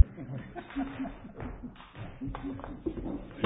Thank you very much. Thank you. Thank you. Thank you.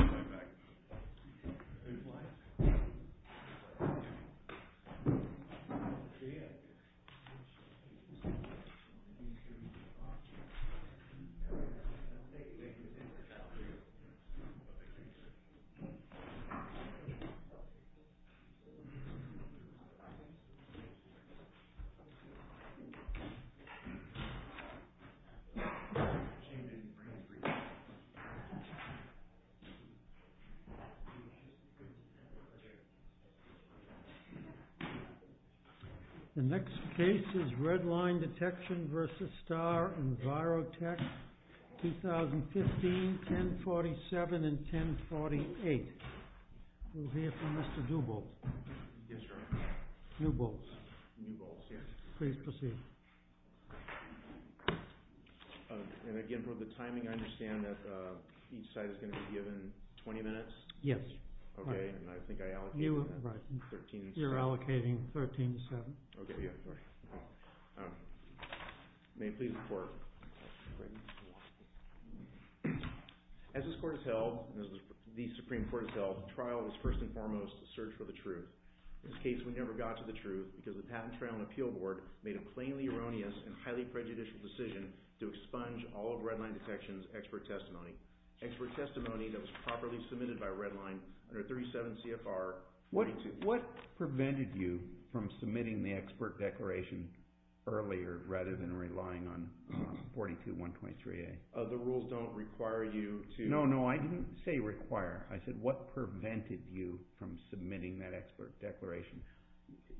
The next case is Red Line Detection versus Starr EnviroTech, 2015, 1047 and 1048. We'll hear from Mr. DuBolt. Yes, sir. DuBolt. DuBolt, yes. Please proceed. And again, for the timing, I understand that each side is going to be given 20 minutes? Yes. Okay. And I think I allocated that. Right. 13 to 7. You're allocating 13 to 7. Okay. Yeah. May I please report? Great. As this court is held, as the Supreme Court is held, trial is first and foremost a search for the truth. In this case, we never got to the truth because the Patent, Trial, and Appeal Board made a plainly erroneous and highly prejudicial decision to expunge all of Red Line Detection's expert testimony, expert testimony that was properly submitted by Red Line under 37 CFR 42A. What prevented you from submitting the expert declaration earlier rather than relying on 42, 123A? The rules don't require you to... No, no. I didn't say require. I said, what prevented you from submitting that expert declaration?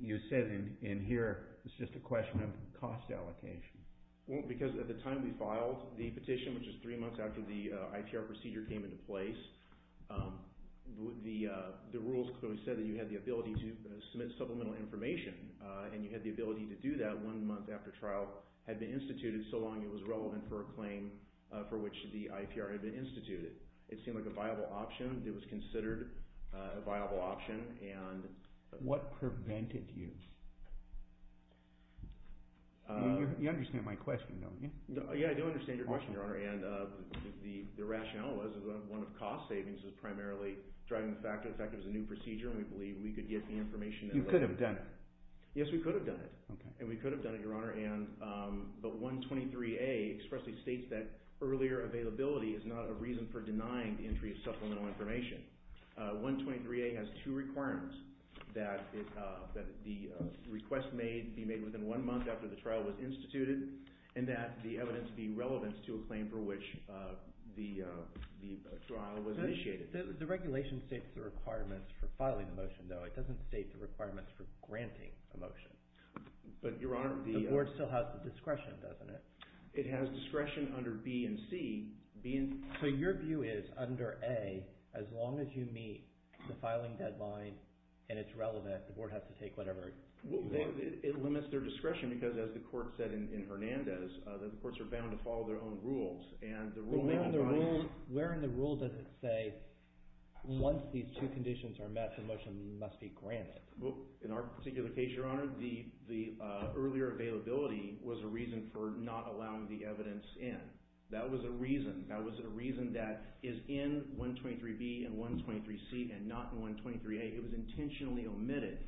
You said in here, it's just a question of cost allocation. Well, because at the time we filed the petition, which is three months after the IPR procedure came into place, the rules clearly said that you had the ability to submit supplemental information, and you had the ability to do that one month after trial had been instituted so long it was relevant for a claim for which the IPR had been instituted. It seemed like a viable option. It was considered a viable option, and... What prevented you? You understand my question, don't you? Yeah, I do understand your question, Your Honor, and the rationale was that one of the cost savings was primarily driving the fact that it was a new procedure, and we believe we could get the information... You could have done it. Yes, we could have done it. Okay. And we could have done it, Your Honor, and the 123A expressly states that earlier availability is not a reason for denying the entry of supplemental information. 123A has two requirements, that the request may be made within one month after the trial was instituted, and that the evidence be relevant to a claim for which the trial was initiated. The regulation states the requirements for filing the motion, though. It doesn't state the requirements for granting a motion. But, Your Honor, the... The Board still has the discretion, doesn't it? It has discretion under B and C, B and... So, your view is, under A, as long as you meet the filing deadline and it's relevant, the Board has to take whatever... It limits their discretion because, as the court said in Hernandez, that the courts are bound to follow their own rules, and the rule may not... Where in the rule does it say, once these two conditions are met, the motion must be granted? Well, in our particular case, Your Honor, the earlier availability was a reason for not allowing the evidence in. That was a reason. That was a reason that is in 123B and 123C and not in 123A. It was intentionally omitted,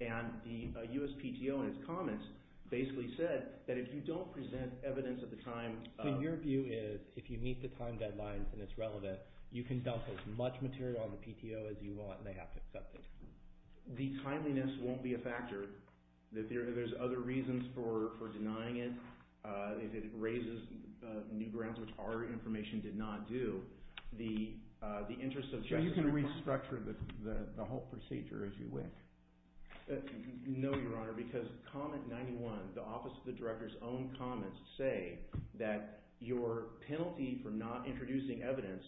and the USPTO, in its comments, basically said that if you don't present evidence at the time... So, your view is, if you meet the time deadline and it's relevant, you can dump as much material on the PTO as you want, and they have to accept it. The timeliness won't be a factor. There's other reasons for denying it. If it raises new grounds, which our information did not do, the interest of... So, you can restructure the whole procedure as you wish? No, Your Honor, because Comment 91, the Office of the Director's own comments, say that your penalty for not introducing evidence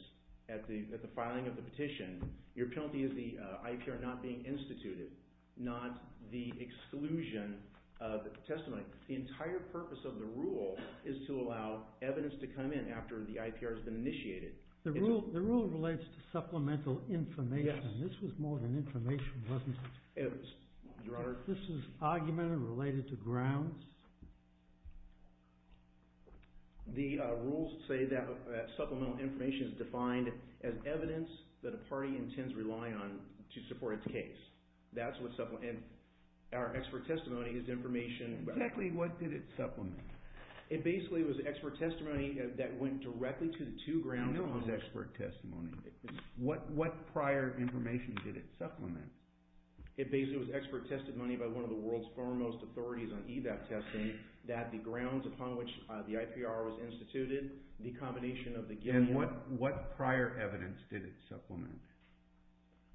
at the filing of the petition, your penalty is the IPR not being instituted, not the exclusion of testimony. The entire purpose of the rule is to allow evidence to come in after the IPR has been initiated. The rule relates to supplemental information. Yes. This was more than information, wasn't it? Your Honor... This is argument related to grounds? The rules say that supplemental information is defined as evidence that a party intends to rely on to support its case. That's what supple... And our expert testimony is information... Exactly what did it supplement? It basically was expert testimony that went directly to the two grounds... What prior information did it supplement? It basically was expert testimony by one of the world's foremost authorities on EVAP testing that the grounds upon which the IPR was instituted, the combination of the given... And what prior evidence did it supplement?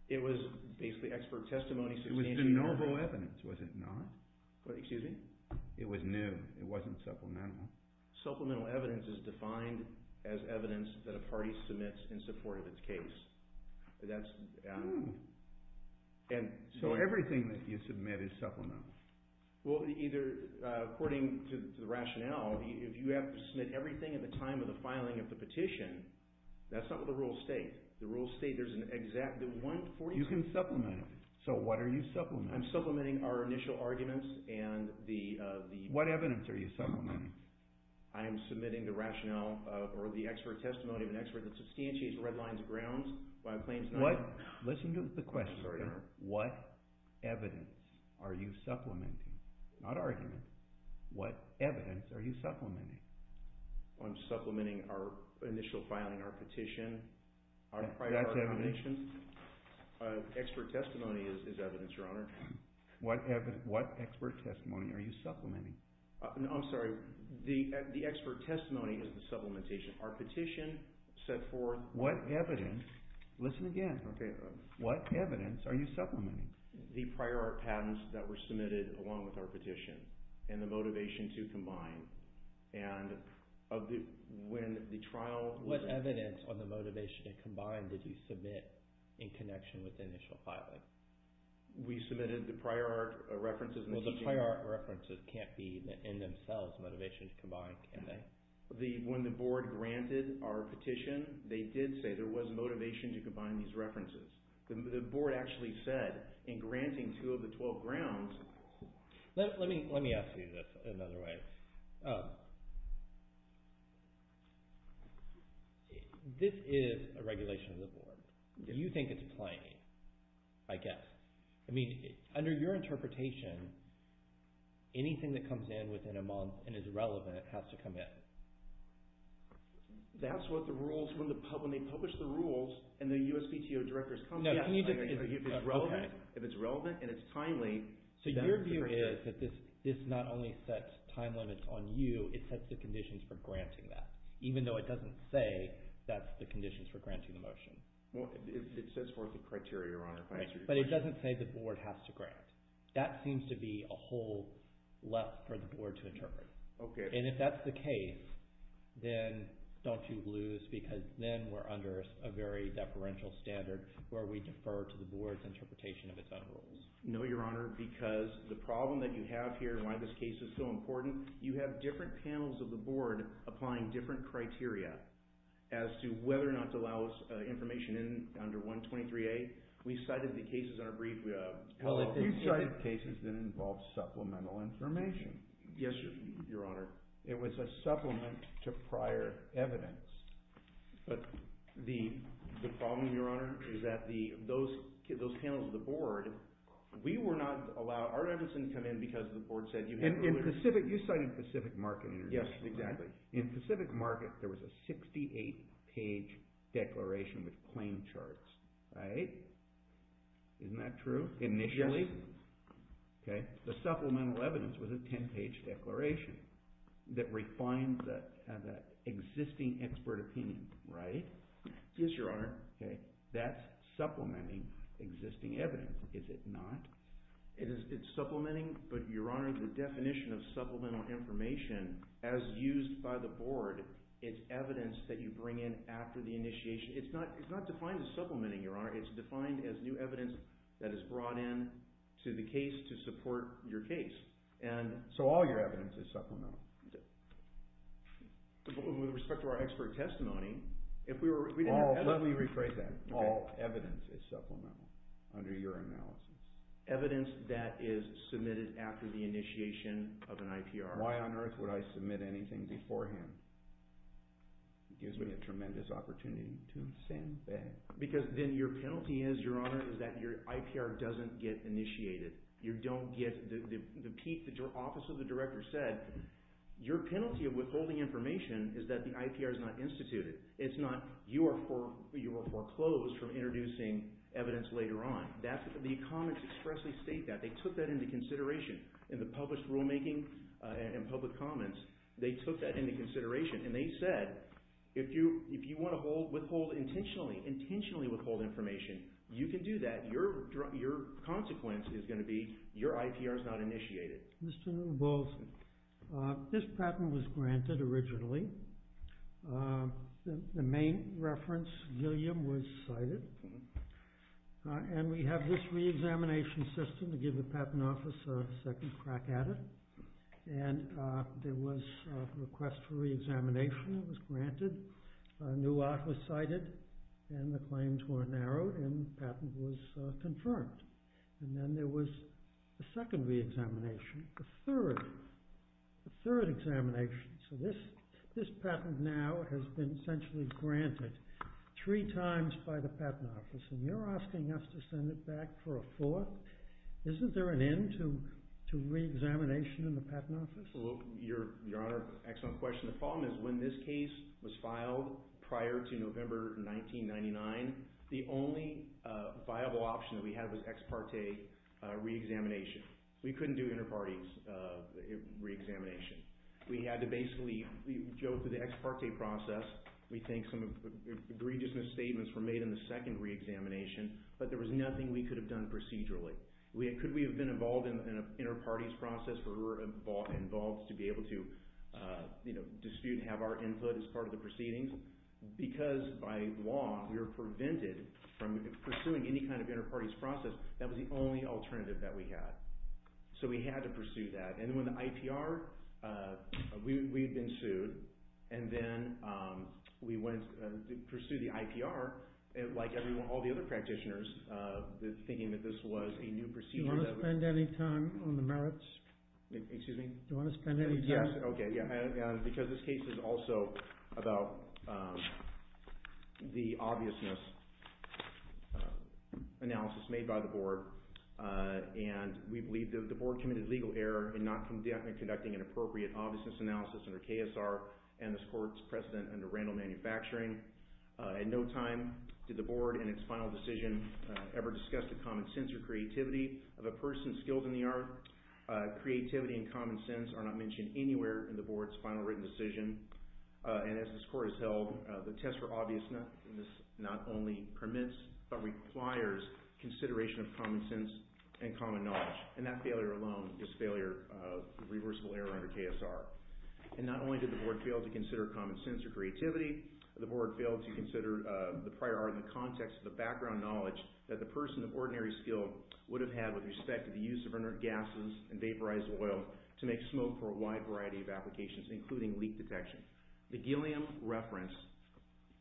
It was basically expert testimony... It was de novo evidence, was it not? Excuse me? It was new, it wasn't supplemental. Supplemental evidence is defined as evidence that a party submits in support of its case. So everything that you submit is supplemental? Well, according to the rationale, if you have to submit everything at the time of the filing of the petition, that's not what the rules state. The rules state there's an exact... You can supplement it. So what are you supplementing? I'm supplementing our initial arguments and the... What evidence are you supplementing? I am submitting the rationale or the expert testimony of an expert that substantiates Redline's grounds by claiming... Listen to the question. What evidence are you supplementing? Not arguments. What evidence are you supplementing? I'm supplementing our initial filing, our petition. That's evidence? Expert testimony is evidence, Your Honor. What expert testimony are you supplementing? I'm sorry. The expert testimony is the supplementation. Our petition set forth... What evidence... Listen again. Okay. What evidence are you supplementing? The prior art patents that were submitted along with our petition and the motivation to combine. And when the trial... What evidence on the motivation to combine did you submit in connection with the initial filing? We submitted the prior art references... Well, the prior art references can't be in themselves motivation to combine, can they? When the board granted our petition, they did say there was motivation to combine these references. The board actually said in granting two of the 12 grounds... Let me ask you this another way. This is a regulation of the board. You think it's plain, I guess. I mean, under your interpretation, anything that comes in within a month and is relevant has to come in. That's what the rules... When they publish the rules and the USPTO directors come... No, can you just... If it's relevant and it's timely... So your view is that this not only sets time limits on you, it sets the conditions for granting that, even though it doesn't say that's the conditions for granting the motion. Well, it sets forth the criteria, Your Honor. But it doesn't say the board has to grant. That seems to be a hole left for the board to interpret. Okay. And if that's the case, then don't you lose because then we're under a very deferential standard where we defer to the board's interpretation of its own rules. No, Your Honor, because the problem that you have here, why this case is so important, you have different panels of the board applying different criteria as to whether or not to allow us information under 123A. We cited the cases in our brief... Well, you cited cases that involved supplemental information. Yes, Your Honor. It was a supplement to prior evidence. But the problem, Your Honor, is that those panels of the board, we were not allowed... Our reference didn't come in because the board said you had to... You cited Pacific Market International. Yes, exactly. In Pacific Market, there was a 68-page declaration with claim charts. Right? Isn't that true, initially? Yes. Okay. The supplemental evidence was a 10-page declaration that refined the existing expert opinion. Right? Yes, Your Honor. Okay. That's supplementing existing evidence, is it not? It's supplementing, but, Your Honor, the definition of supplemental information, as used by the board, it's evidence that you bring in after the initiation. It's not defined as supplementing, Your Honor. It's defined as new evidence that is brought in to the case to support your case. So all your evidence is supplemental? With respect to our expert testimony, if we were... Let me rephrase that. All evidence is supplemental under your analysis? Evidence that is submitted after the initiation of an IPR. Why on earth would I submit anything beforehand? It gives me a tremendous opportunity to stand back. Because then your penalty is, Your Honor, is that your IPR doesn't get initiated. You don't get the peak that your Office of the Director said. Your penalty of withholding information is that the IPR is not instituted. It's not you are foreclosed from introducing evidence later on. The comments expressly state that. They took that into consideration in the published rulemaking and public comments. They took that into consideration and they said, if you want to withhold intentionally withhold information, you can do that. Your consequence is going to be your IPR is not initiated. Mr. Newell-Bolson, this patent was granted originally. The main reference, Gilliam, was cited. And we have this re-examination system to give the Patent Office a second crack at it. And there was a request for re-examination. It was granted. A new offer was cited. And the claims were narrowed. And the patent was confirmed. And then there was a second re-examination. A third. A third examination. So this patent now has been essentially granted three times by the Patent Office. And you're asking us to send it back for a fourth? Isn't there an end to re-examination in the Patent Office? Your Honor, excellent question. The problem is when this case was filed prior to November 1999, the only viable option that we had was ex parte re-examination. We couldn't do inter-parties re-examination. We had to basically go through the ex parte process. We think some egregious misstatements were made in the second re-examination. But there was nothing we could have done procedurally. Could we have been involved in an inter-parties process where we were involved to be able to dispute and have our input as part of the proceedings? Because by law, we were prevented from pursuing any kind of inter-parties process. That was the only alternative that we had. So we had to pursue that. And when the IPR, we had been sued. And then we went to pursue the IPR, like all the other practitioners, thinking that this was a new procedure. Do you want to spend any time on the merits? Excuse me? Do you want to spend any time? Yes, okay. Because this case is also about the obviousness analysis made by the Board. And we believe that the Board committed legal error in not conducting an appropriate obviousness analysis under KSR and this Court's precedent under Randall Manufacturing. In no time did the Board, in its final decision, ever discuss the common sense or creativity of a person skilled in the art. Creativity and common sense are not mentioned anywhere in the Board's final written decision. And as this Court has held, the test for obviousness not only permits but requires consideration of common sense and common knowledge. And that failure alone is a failure of reversible error under KSR. And not only did the Board fail to consider common sense or creativity, the Board failed to consider the prior art in the context of the background knowledge that the person of ordinary skill would have had with respect to the use of inert gases and vaporized oil to make smoke for a wide variety of applications, including leak detection. The Gilliam reference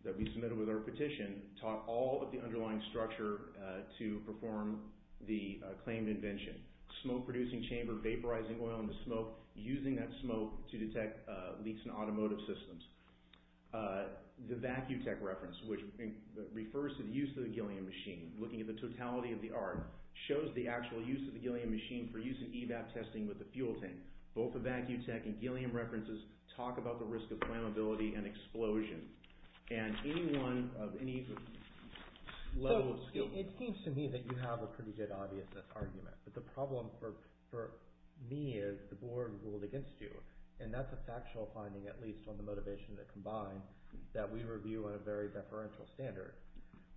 that we submitted with our petition taught all of the underlying structure to perform the claimed invention. Smoke-producing chamber, vaporizing oil in the smoke, using that smoke to detect leaks in automotive systems. The Vacutech reference, which refers to the use of the Gilliam machine, looking at the totality of the art, shows the actual use of the Gilliam machine for use in EVAP testing with a fuel tank. Both the Vacutech and Gilliam references talk about the risk of flammability and explosion. And any one of any level of skill... So it seems to me that you have a pretty good obviousness argument. But the problem for me is the Board ruled against you. And that's a factual finding, at least on the motivation that combined, that we review on a very deferential standard.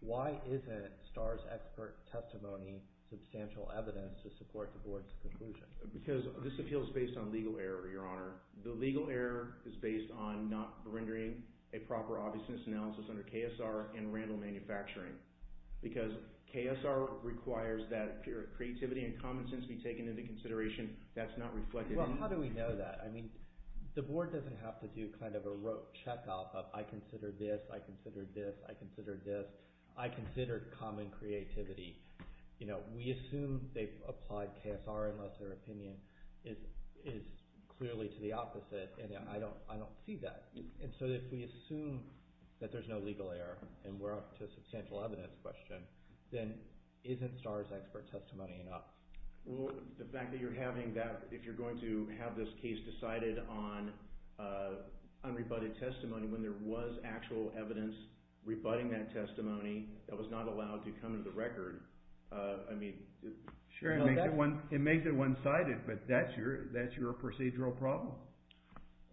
Why isn't STARS expert testimony substantial evidence to support the Board's conclusion? Because this appeal is based on legal error, Your Honor. The legal error is based on not rendering a proper obviousness analysis under KSR and Randall Manufacturing. Because KSR requires that creativity and common sense be taken into consideration. That's not reflected in... Well, how do we know that? I mean, the Board doesn't have to do kind of a rote check-off of I consider this, I consider this, I consider this. I consider common creativity. We assume they've applied KSR unless their opinion is clearly to the opposite. And I don't see that. And so if we assume that there's no legal error and we're up to a substantial evidence question, then isn't STARS expert testimony enough? Well, the fact that you're having that, if you're going to have this case decided on unrebutted testimony when there was actual evidence rebutting that testimony that was not allowed to come to the record, I mean... Sure, it makes it one-sided, but that's your procedural problem.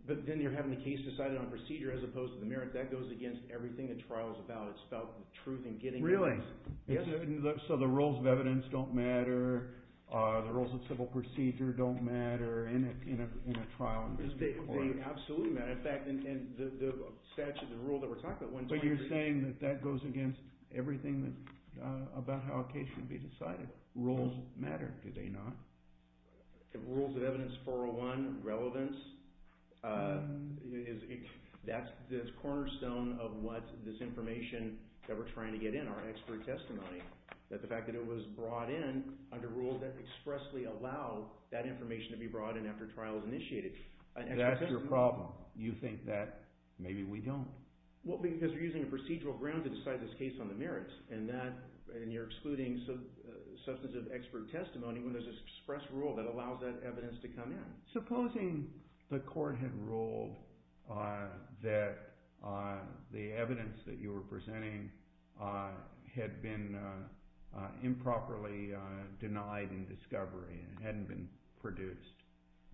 But then you're having the case decided on procedure as opposed to the merit. That goes against everything a trial is about. It's about the truth and getting evidence. Really? So the rules of evidence don't matter? The rules of civil procedure don't matter in a trial? They absolutely matter. In fact, the statute, the rule that we're talking about... But you're saying that that goes against everything about how a case can be decided. Rules matter, do they not? The rules of evidence 401, relevance, that's the cornerstone of what this information that we're trying to get in, our expert testimony, that the fact that it was brought in under rules that expressly allow that information to be brought in after a trial is initiated. That's your problem. You think that maybe we don't. Because you're using a procedural ground to decide this case on the merits, and you're excluding substantive expert testimony when there's an express rule that allows that evidence to come in. Supposing the court had ruled that the evidence that you were presenting had been improperly denied in discovery, and it hadn't been produced,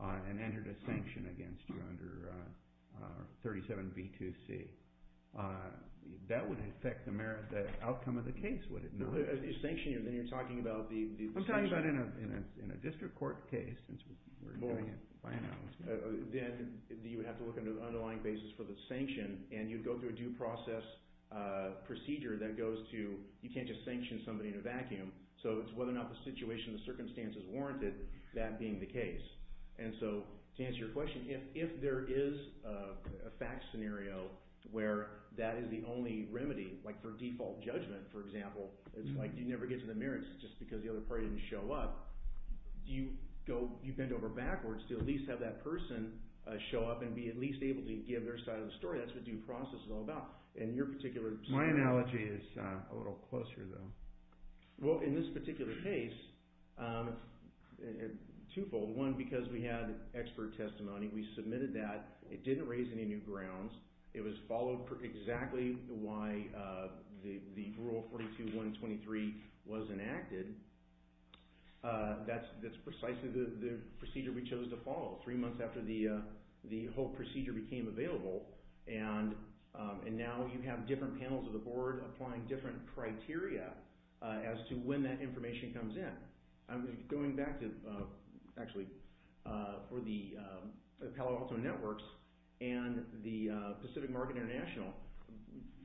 and entered a sanction against you under 37B2C, that would affect the outcome of the case, would it not? No, you're sanctioning it, and then you're talking about the... I'm talking about in a district court case, since we're doing it by analysis. Then you would have to look under the underlying basis for the sanction, and you'd go through a due process procedure that goes to... You can't just sanction somebody in a vacuum. It's whether or not the situation, the circumstances warranted that being the case. To answer your question, if there is a fact scenario where that is the only remedy, like for default judgment, for example, it's like you never get to the merits just because the other party didn't show up, do you bend over backwards to at least have that person show up and be at least able to give their side of the story? That's what due process is all about. My analogy is a little closer, though. In this particular case, twofold. One, because we had expert testimony. We submitted that. It didn't raise any new grounds. It was followed exactly why the Rule 42.123 was enacted. That's precisely the procedure we chose to follow. Three months after the whole procedure became available, and now you have different panels of the board applying different criteria as to when that information comes in. I'm going back to, actually, for the Palo Alto Networks and the Pacific Market International.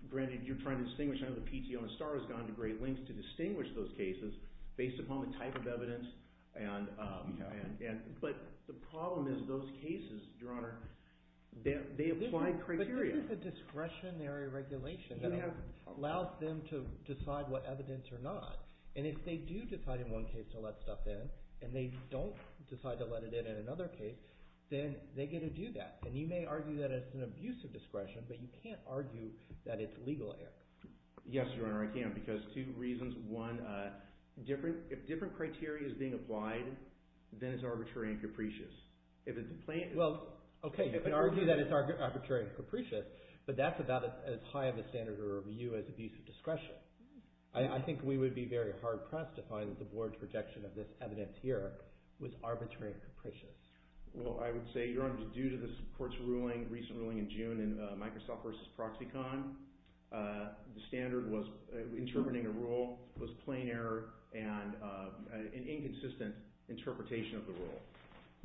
Granted, you're trying to distinguish. I know the PTO and STAR has gone to great lengths to distinguish those cases based upon the type of evidence. But the problem is those cases, Your Honor, they apply criteria. But this is a discretionary regulation that allows them to decide what evidence or not. And if they do decide in one case to let stuff in, and they don't decide to let it in in another case, then they get to do that. And you may argue that it's an abuse of discretion, but you can't argue that it's legal, Eric. Yes, Your Honor, I can, because two reasons. One, if different criteria is being applied, then it's arbitrary and capricious. Well, okay, you can argue that it's arbitrary and capricious, but that's about as high of a standard of review as abuse of discretion. I think we would be very hard-pressed to find that the board's projection of this evidence here was arbitrary and capricious. Well, I would say, Your Honor, due to the court's recent ruling in June in Microsoft v. Proxicon, the standard was interpreting a rule was plain error and an inconsistent interpretation of the rule.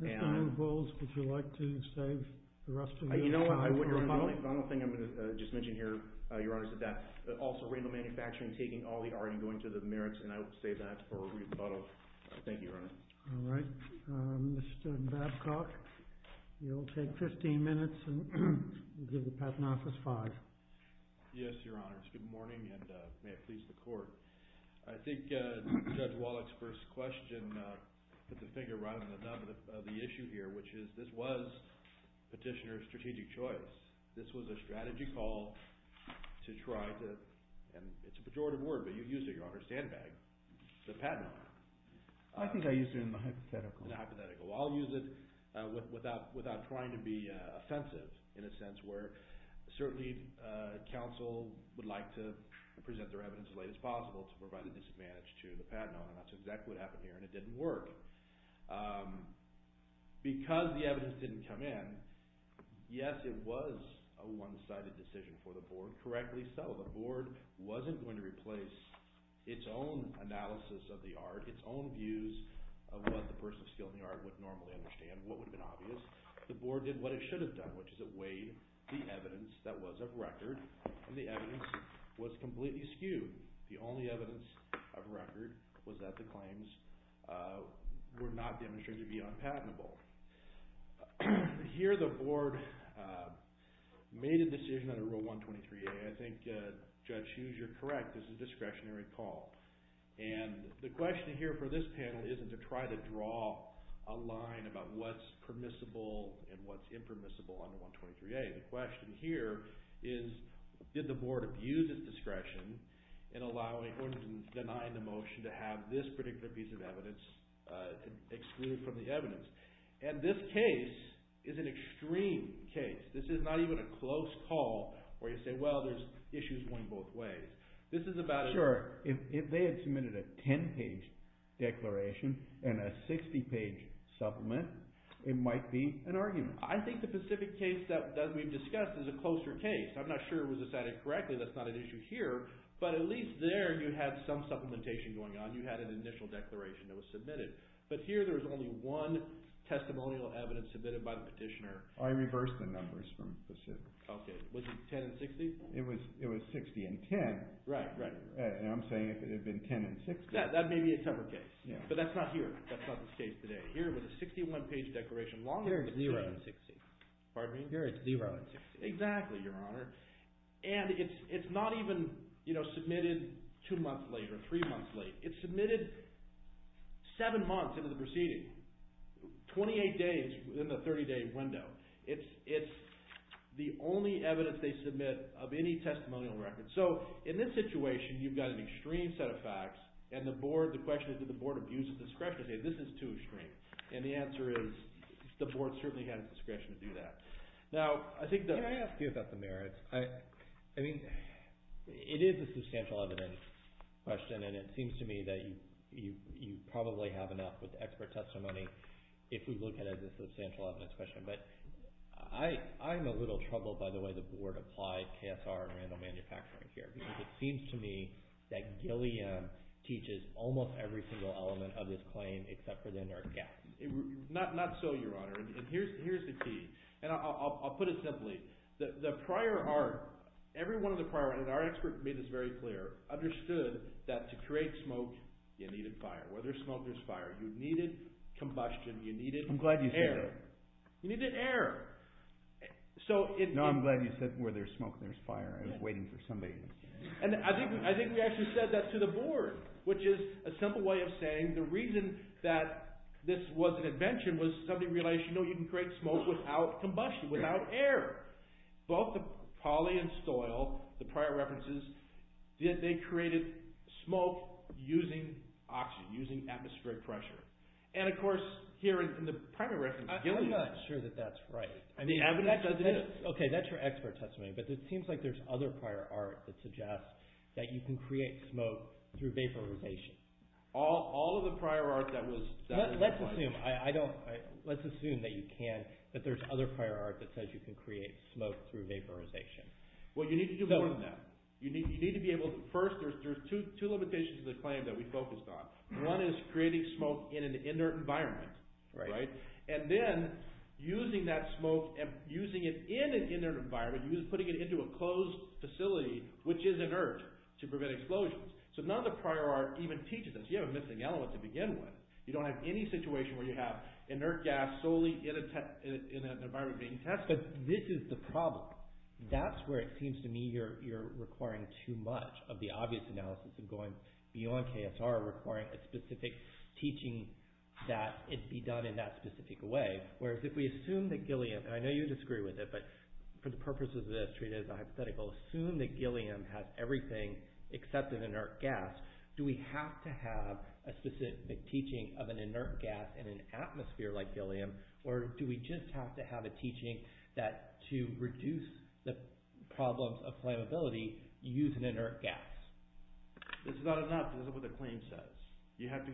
Mr. Hayden-Bowles, would you like to say the rest of your time? You know what, Your Honor, the final thing I'm going to just mention here, Your Honor, is that also rental manufacturing taking all the heart and going to the merits, and I would say that for a rebuttal. Thank you, Your Honor. All right. Mr. Babcock, you'll take 15 minutes, and we'll give the Patent Office five. Yes, Your Honor, it's good morning, and may it please the Court. I think Judge Wallach's first question put the finger right on the nub of the issue here, which is this was Petitioner's strategic choice. This was a strategy call to try to, and it's a pejorative word, but you used it, Your Honor, stand bag the Patent Office. I think I used it in the hypothetical. In the hypothetical. Well, I'll use it without trying to be offensive, in a sense, where certainly counsel would like to present their evidence as late as possible to provide a disadvantage to the Patent Office. That's exactly what happened here, and it didn't work. Because the evidence didn't come in, yes, it was a one-sided decision for the Board. Correctly so. The Board wasn't going to replace its own analysis of the art, its own views of what the person of skill in the art would normally understand, what would have been obvious. The Board did what it should have done, which is it weighed the evidence that was of record, and the evidence was completely skewed. The only evidence of record was that the claims were not demonstrating to be unpatentable. Here the Board made a decision under Rule 123A, and I think Judge Hughes, you're correct, this is a discretionary call. And the question here for this panel isn't to try to draw a line about what's permissible and what's impermissible under 123A. The question here is did the Board abuse its discretion in denying the motion to have this particular piece of evidence excluded from the evidence? And this case is an extreme case. This is not even a close call where you say, well, there's issues going both ways. This is about a... Sure. If they had submitted a 10-page declaration and a 60-page supplement, it might be an argument. I think the specific case that we've discussed is a closer case. I'm not sure it was decided correctly. That's not an issue here. But at least there you had some supplementation going on. You had an initial declaration that was submitted. But here there was only one testimonial evidence submitted by the petitioner. I reversed the numbers from Pacific. Okay. Was it 10 and 60? It was 60 and 10. Right, right. And I'm saying if it had been 10 and 60. That may be a tougher case. But that's not here. That's not this case today. Here it was a 61-page declaration. Here it's zero. Pardon me? Here it's zero and 60. Exactly, Your Honor. And it's not even submitted two months late or three months late. It's submitted seven months into the proceeding, 28 days within the 30-day window. It's the only evidence they submit of any testimonial record. So in this situation, you've got an extreme set of facts. And the question is, did the Board abuse its discretion to say this is too extreme? And the answer is the Board certainly had its discretion to do that. Can I ask you about the merits? I mean, it is a substantial evidence question, and it seems to me that you probably have enough with expert testimony if we look at it as a substantial evidence question. But I'm a little troubled by the way the Board applied KSR and random manufacturing here because it seems to me that Gilliam teaches almost every single element of this claim except for the inert gas. Not so, Your Honor. And here's the key. And I'll put it simply. The prior art, every one of the prior art, and our expert made this very clear, understood that to create smoke, you needed fire. Where there's smoke, there's fire. You needed combustion. You needed air. I'm glad you said that. You needed air. No, I'm glad you said where there's smoke, there's fire. I was waiting for somebody to say that. And I think we actually said that to the Board, which is a simple way of saying the reason that this was an invention was something related to, you know, you can create smoke without combustion, without air. Both the Pauli and Stoyle, the prior references, they created smoke using oxygen, using atmospheric pressure. And, of course, here in the primary reference, Gilliam. I'm not sure that that's right. The evidence says it is. Okay, that's your expert testimony, but it seems like there's other prior art that suggests that you can create smoke through vaporization. All of the prior art that was applied. Let's assume that you can, that there's other prior art that says you can create smoke through vaporization. Well, you need to do more than that. You need to be able to, first, there's two limitations to the claim that we focused on. One is creating smoke in an inert environment, right? And then using that smoke and using it in an inert environment, you're putting it into a closed facility, which is inert, to prevent explosions. So none of the prior art even teaches us. You have a missing element to begin with. You don't have any situation where you have inert gas solely in an environment being tested. But this is the problem. That's where it seems to me you're requiring too much of the obvious analysis of going beyond KSR requiring a specific teaching that it be done in that specific way. Whereas if we assume that Gilliam, and I know you disagree with it, but for the purposes of this treat it as a hypothetical, assume that Gilliam has everything except an inert gas, do we have to have a specific teaching of an inert gas in an atmosphere like Gilliam, or do we just have to have a teaching that to reduce the problems of flammability, you use an inert gas? It's not enough. This is what the claim says. You have to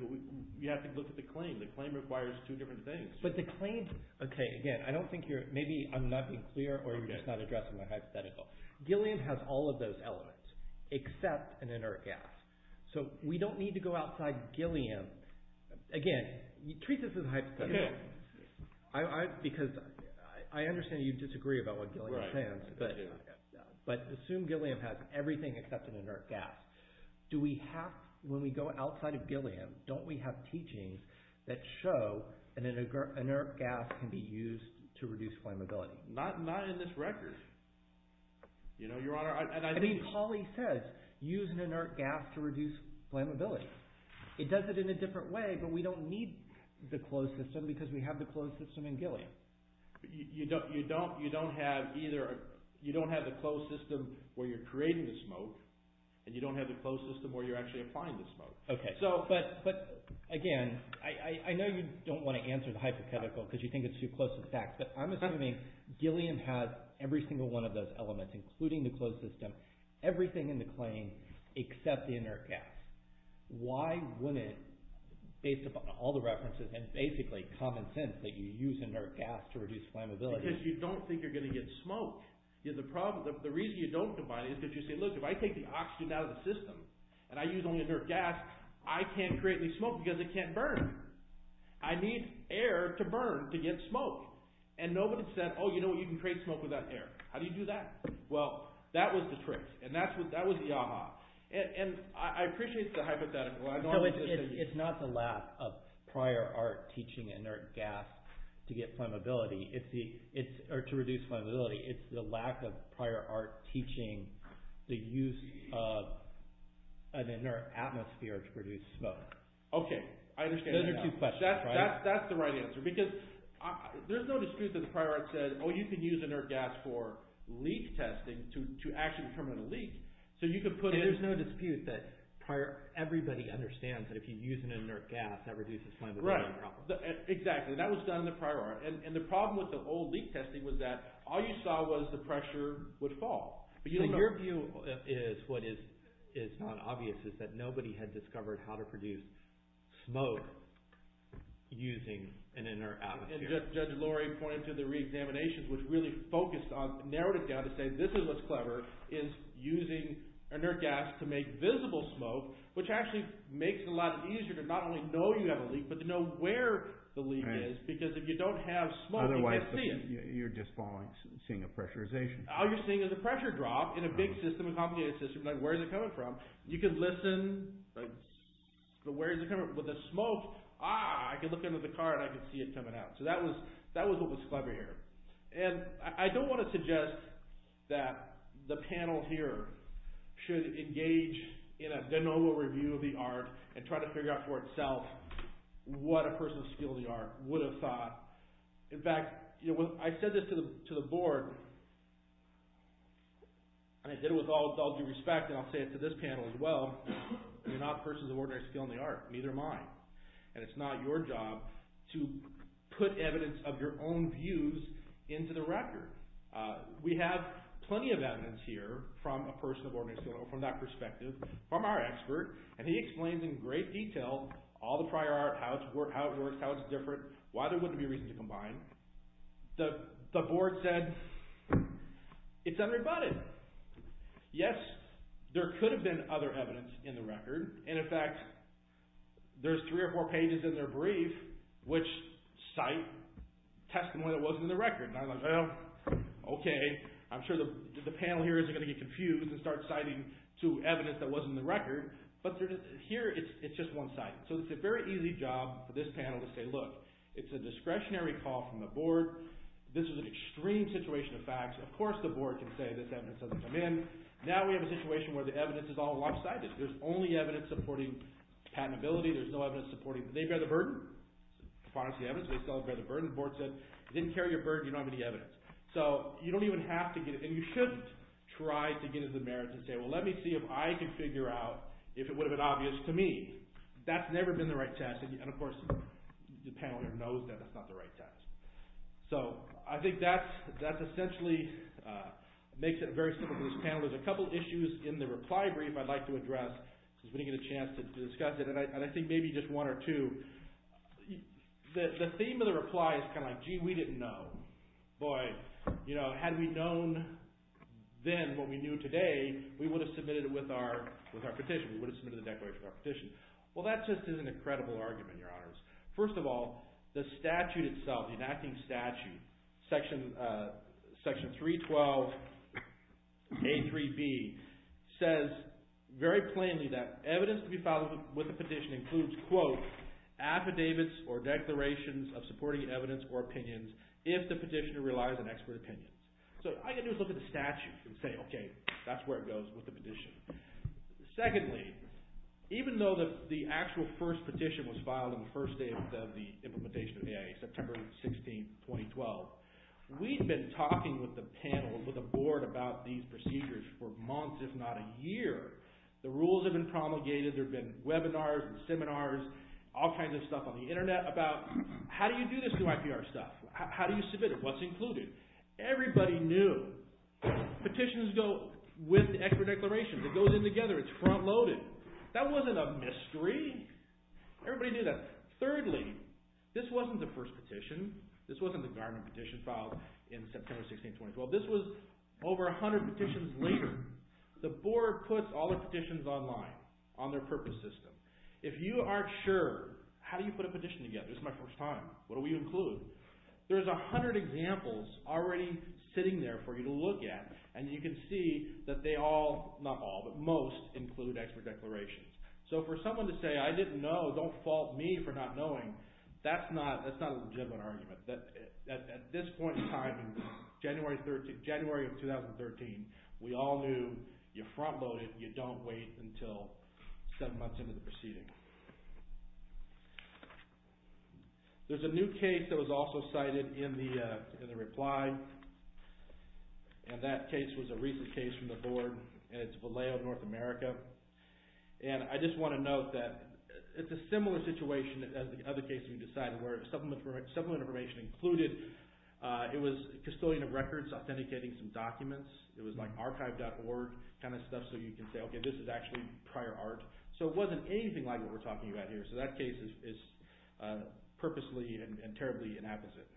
look at the claim. The claim requires two different things. But the claim, okay, again, I don't think you're, maybe I'm not being clear, or you're just not addressing my hypothetical. Gilliam has all of those elements except an inert gas. So we don't need to go outside Gilliam. Again, treat this as a hypothetical. Because I understand you disagree about what Gilliam says, but assume Gilliam has everything except an inert gas. Do we have, when we go outside of Gilliam, don't we have teachings that show an inert gas can be used to reduce flammability? No, not in this record. Your Honor, and I mean this. I mean Colley says use an inert gas to reduce flammability. It does it in a different way, but we don't need the closed system because we have the closed system in Gilliam. You don't have either, you don't have the closed system where you're creating the smoke, and you don't have the closed system where you're actually applying the smoke. Okay, but again, I know you don't want to answer the hypothetical because you think it's too close to the fact, but I'm assuming Gilliam has every single one of those elements, including the closed system, everything in the claim, except the inert gas. Why wouldn't, based upon all the references and basically common sense, that you use an inert gas to reduce flammability? Because you don't think you're going to get smoke. The reason you don't combine it is because you say, look, if I take the oxygen out of the system and I use only inert gas, I can't create any smoke because it can't burn. I need air to burn to get smoke. And nobody said, oh, you know what, you can create smoke without air. How do you do that? Well, that was the trick, and that was the ah-ha. And I appreciate the hypothetical. So it's not the lack of prior art teaching inert gas to get flammability, or to reduce flammability. It's the lack of prior art teaching the use of an inert atmosphere to produce smoke. Okay, I understand. Those are two questions, right? That's the right answer. Because there's no dispute that the prior art said, oh, you can use inert gas for leak testing to actually determine a leak. So you could put in— There's no dispute that everybody understands that if you use an inert gas, that reduces flammability. Exactly. That was done in the prior art. And the problem with the old leak testing was that all you saw was the pressure would fall. So your view is what is not obvious, is that nobody had discovered how to produce smoke using an inert atmosphere. And Judge Lori pointed to the reexaminations, which really focused on—narrowed it down to say this is what's clever, is using inert gas to make visible smoke, which actually makes it a lot easier to not only know you have a leak, but to know where the leak is. Right. Because if you don't have smoke, you can't see it. Otherwise you're just falling—seeing a pressurization. All you're seeing is a pressure drop in a big system, a complicated system, like where is it coming from? You can listen, but where is it coming from? But the smoke, ah, I can look under the car and I can see it coming out. So that was what was clever here. And I don't want to suggest that the panel here should engage in a de novo review of the art and try to figure out for itself what a person of skill in the art would have thought. In fact, I said this to the board, and I did it with all due respect, and I'll say it to this panel as well, you're not a person of ordinary skill in the art. Neither am I. And it's not your job to put evidence of your own views into the record. We have plenty of evidence here from a person of ordinary skill, from that perspective, from our expert, and he explains in great detail all the prior art, how it works, how it's different, why there wouldn't be a reason to combine. The board said, it's unrebutted. Yes, there could have been other evidence in the record. And in fact, there's three or four pages in their brief which cite testimony that wasn't in the record. And I'm like, well, okay, I'm sure the panel here isn't going to get confused and start citing to evidence that wasn't in the record, but here it's just one site. So it's a very easy job for this panel to say, look, it's a discretionary call from the board. This is an extreme situation of facts. Of course the board can say this evidence doesn't come in. Now we have a situation where the evidence is all alongside this. There's only evidence supporting patentability. There's no evidence supporting they bear the burden. They still bear the burden. The board said they didn't carry your burden. You don't have any evidence. So you don't even have to get it, and you shouldn't try to get into the merits and say, well, let me see if I can figure out if it would have been obvious to me. That's never been the right test, and of course the panel here knows that it's not the right test. So I think that essentially makes it very simple for this panel. There's a couple issues in the reply brief I'd like to address since we didn't get a chance to discuss it, and I think maybe just one or two. The theme of the reply is kind of like, gee, we didn't know. Boy, had we known then what we knew today, we would have submitted it with our petition. We would have submitted the declaration with our petition. Well, that just isn't a credible argument, Your Honors. First of all, the statute itself, the enacting statute, Section 312A3B, says very plainly that evidence to be filed with a petition includes, quote, affidavits or declarations of supporting evidence or opinions if the petitioner relies on expert opinions. So all you have to do is look at the statute and say, okay, that's where it goes with the petition. Secondly, even though the actual first petition was filed on the first day of the implementation of the AIA, September 16, 2012, we'd been talking with the panel and with the board about these procedures for months, if not a year. The rules had been promulgated. There had been webinars and seminars, all kinds of stuff on the Internet about how do you do this new IPR stuff? How do you submit it? What's included? Everybody knew. Petitions go with the expert declarations. It goes in together. It's front-loaded. That wasn't a mystery. Everybody knew that. Thirdly, this wasn't the first petition. This wasn't the Gardner petition filed in September 16, 2012. This was over 100 petitions later. The board puts all the petitions online on their purpose system. If you aren't sure, how do you put a petition together? This is my first time. What do we include? There's 100 examples already sitting there for you to look at, and you can see that they all, not all, but most, include expert declarations. So for someone to say, I didn't know, don't fault me for not knowing, that's not a legitimate argument. At this point in time, January of 2013, we all knew you front-load it, you don't wait until seven months into the proceeding. There's a new case that was also cited in the reply, and that case was a recent case from the board, and it's Vallejo, North America. And I just want to note that it's a similar situation as the other case you decided, where supplement information included, it was a castillion of records, authenticating some documents. It was like archive.org kind of stuff, so you can say, okay, this is actually prior art. So it wasn't anything like what we're talking about here, so that case is purposely and terribly inapplicable.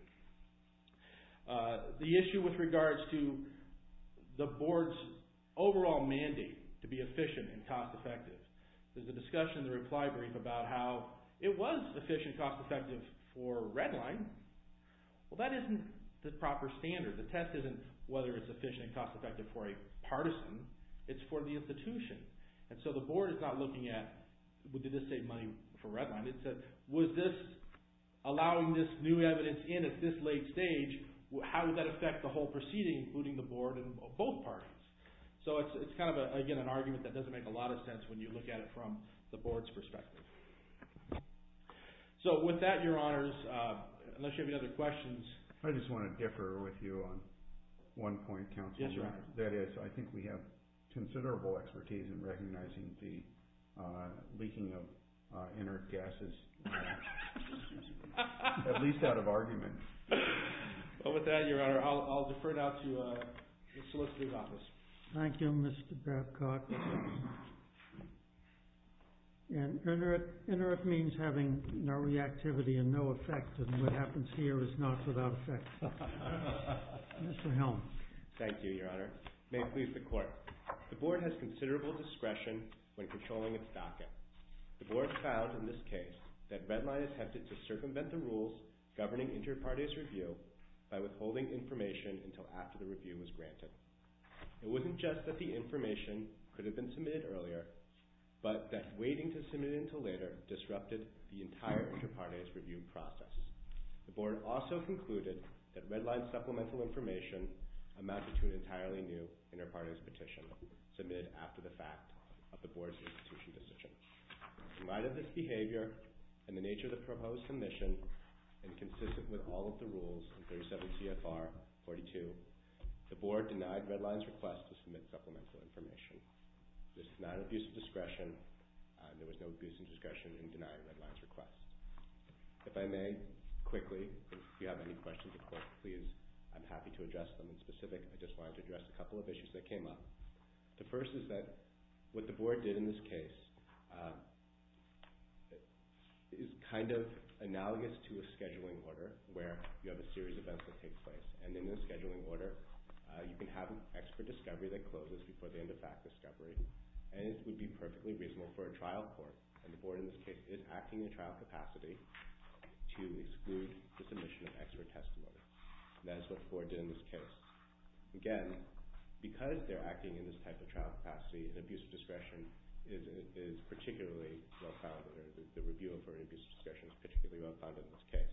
The issue with regards to the board's overall mandate to be efficient and cost-effective. There's a discussion in the reply brief about how it was efficient and cost-effective for Redline. Well, that isn't the proper standard. The test isn't whether it's efficient and cost-effective for a partisan. It's for the institution. And so the board is not looking at, well, did this save money for Redline? It said, was this allowing this new evidence in at this late stage, how would that affect the whole proceeding, including the board and both parties? So it's kind of, again, an argument that doesn't make a lot of sense when you look at it from the board's perspective. So with that, Your Honors, unless you have any other questions. I just want to differ with you on one point, Counselor. That is, I think we have considerable expertise in recognizing the leaking of inert gases. At least out of argument. Well, with that, Your Honor, I'll defer it out to the solicitor's office. Thank you, Mr. Babcock. And inert means having no reactivity and no effect, and what happens here is not without effect. Mr. Helm. Thank you, Your Honor. May it please the Court. The board has considerable discretion when controlling its docket. The board found in this case that Redline attempted to circumvent the rules governing inter-parties review by withholding information until after the review was granted. It wasn't just that the information could have been submitted earlier, but that waiting to submit it until later disrupted the entire inter-parties review process. The board also concluded that Redline's supplemental information amounted to an entirely new inter-parties petition submitted after the fact of the board's institution decision. In light of this behavior and the nature of the proposed submission, and consistent with all of the rules in 37 CFR 42, the board denied Redline's request to submit supplemental information. This is not an abuse of discretion. There was no abuse of discretion in denying Redline's request. If I may, quickly, if you have any questions of the Court, please, I'm happy to address them in specific. I just wanted to address a couple of issues that came up. The first is that what the board did in this case is kind of analogous to a scheduling order where you have a series of events that take place, and in the scheduling order you can have an expert discovery that closes before the end of fact discovery, and it would be perfectly reasonable for a trial court, and the board in this case, is acting in trial capacity to exclude the submission of expert testimony. That is what the board did in this case. Again, because they're acting in this type of trial capacity, an abuse of discretion is particularly well-founded. The review of an abuse of discretion is particularly well-founded in this case.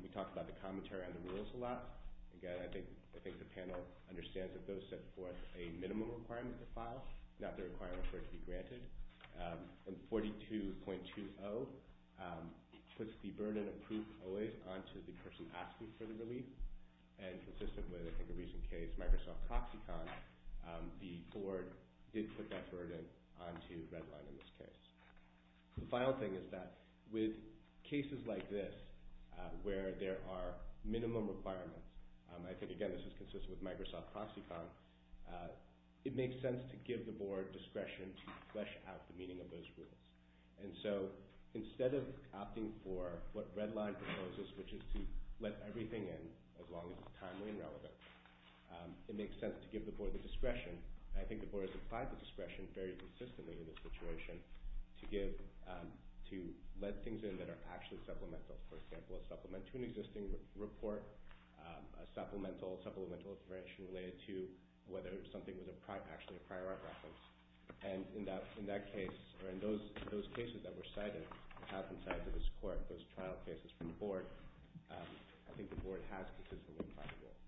We talked about the commentary on the rules a lot. Again, I think the panel understands that those set forth a minimum requirement to file, not the requirement for it to be granted. And 42.20 puts the burden of proof always onto the person asking for the relief, and consistent with, I think, a recent case, Microsoft Proxicon, the board did put that burden onto Redline in this case. The final thing is that with cases like this where there are minimum requirements, I think, again, this is consistent with Microsoft Proxicon, it makes sense to give the board discretion to flesh out the meaning of those rules. And so instead of opting for what Redline proposes, which is to let everything in as long as it's timely and relevant, it makes sense to give the board the discretion, and I think the board has applied the discretion very consistently in this situation, to let things in that are actually supplemental. For example, a supplement to an existing report, a supplemental information related to whether something was actually a prior art reference. And in that case, or in those cases that were cited, have been cited to this court, those trial cases from the board, I think the board has consistently applied the rule.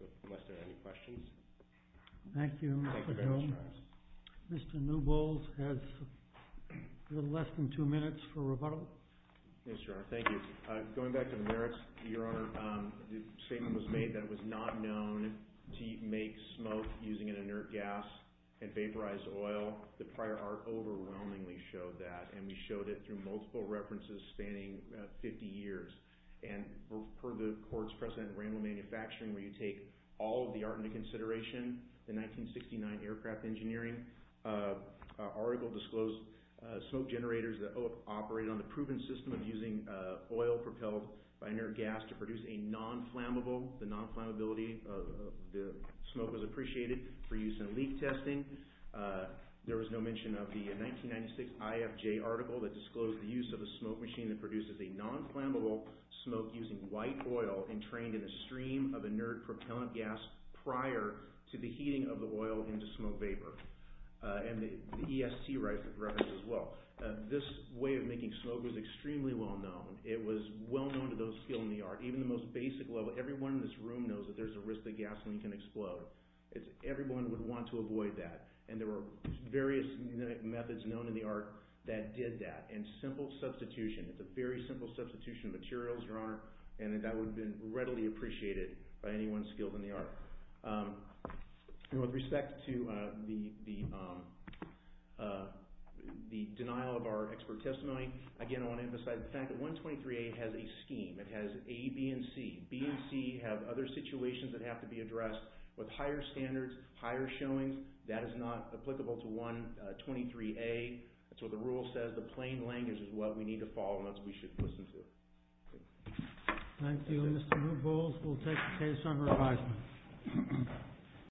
So unless there are any questions. Thank you, Mr. Jones. Thank you very much, Your Honor. Mr. Newbold has a little less than two minutes for rebuttal. Yes, Your Honor, thank you. Going back to the merits, Your Honor, the statement was made that it was not known to make smoke using an inert gas and vaporized oil. The prior art overwhelmingly showed that, and we showed it through multiple references spanning 50 years. And per the court's precedent at Randall Manufacturing, where you take all of the art into consideration, the 1969 aircraft engineering article disclosed smoke generators that operated on the proven system of using oil propelled by inert gas to produce a non-flammable, the non-flammability of the smoke was appreciated for use in leak testing. There was no mention of the 1996 IFJ article that disclosed the use of a smoke machine that produces a non-flammable smoke using white oil entrained in a stream of inert propellant gas prior to the heating of the oil into smoke vapor. And the EST reference as well. This way of making smoke was extremely well known. It was well known to those skilled in the art. Even the most basic level, everyone in this room knows that there's a risk that gasoline can explode. Everyone would want to avoid that. And there were various methods known in the art that did that. And simple substitution, it's a very simple substitution of materials, Your Honor, and that would have been readily appreciated by anyone skilled in the art. With respect to the denial of our expert testimony, again, I want to emphasize the fact that 123A has a scheme. It has A, B, and C. B and C have other situations that have to be addressed with higher standards, higher showings. That is not applicable to 123A. That's what the rule says. The plain language is what we need to follow and that's what we should listen to. Thank you. Mr. Newpols will take the case under advisement.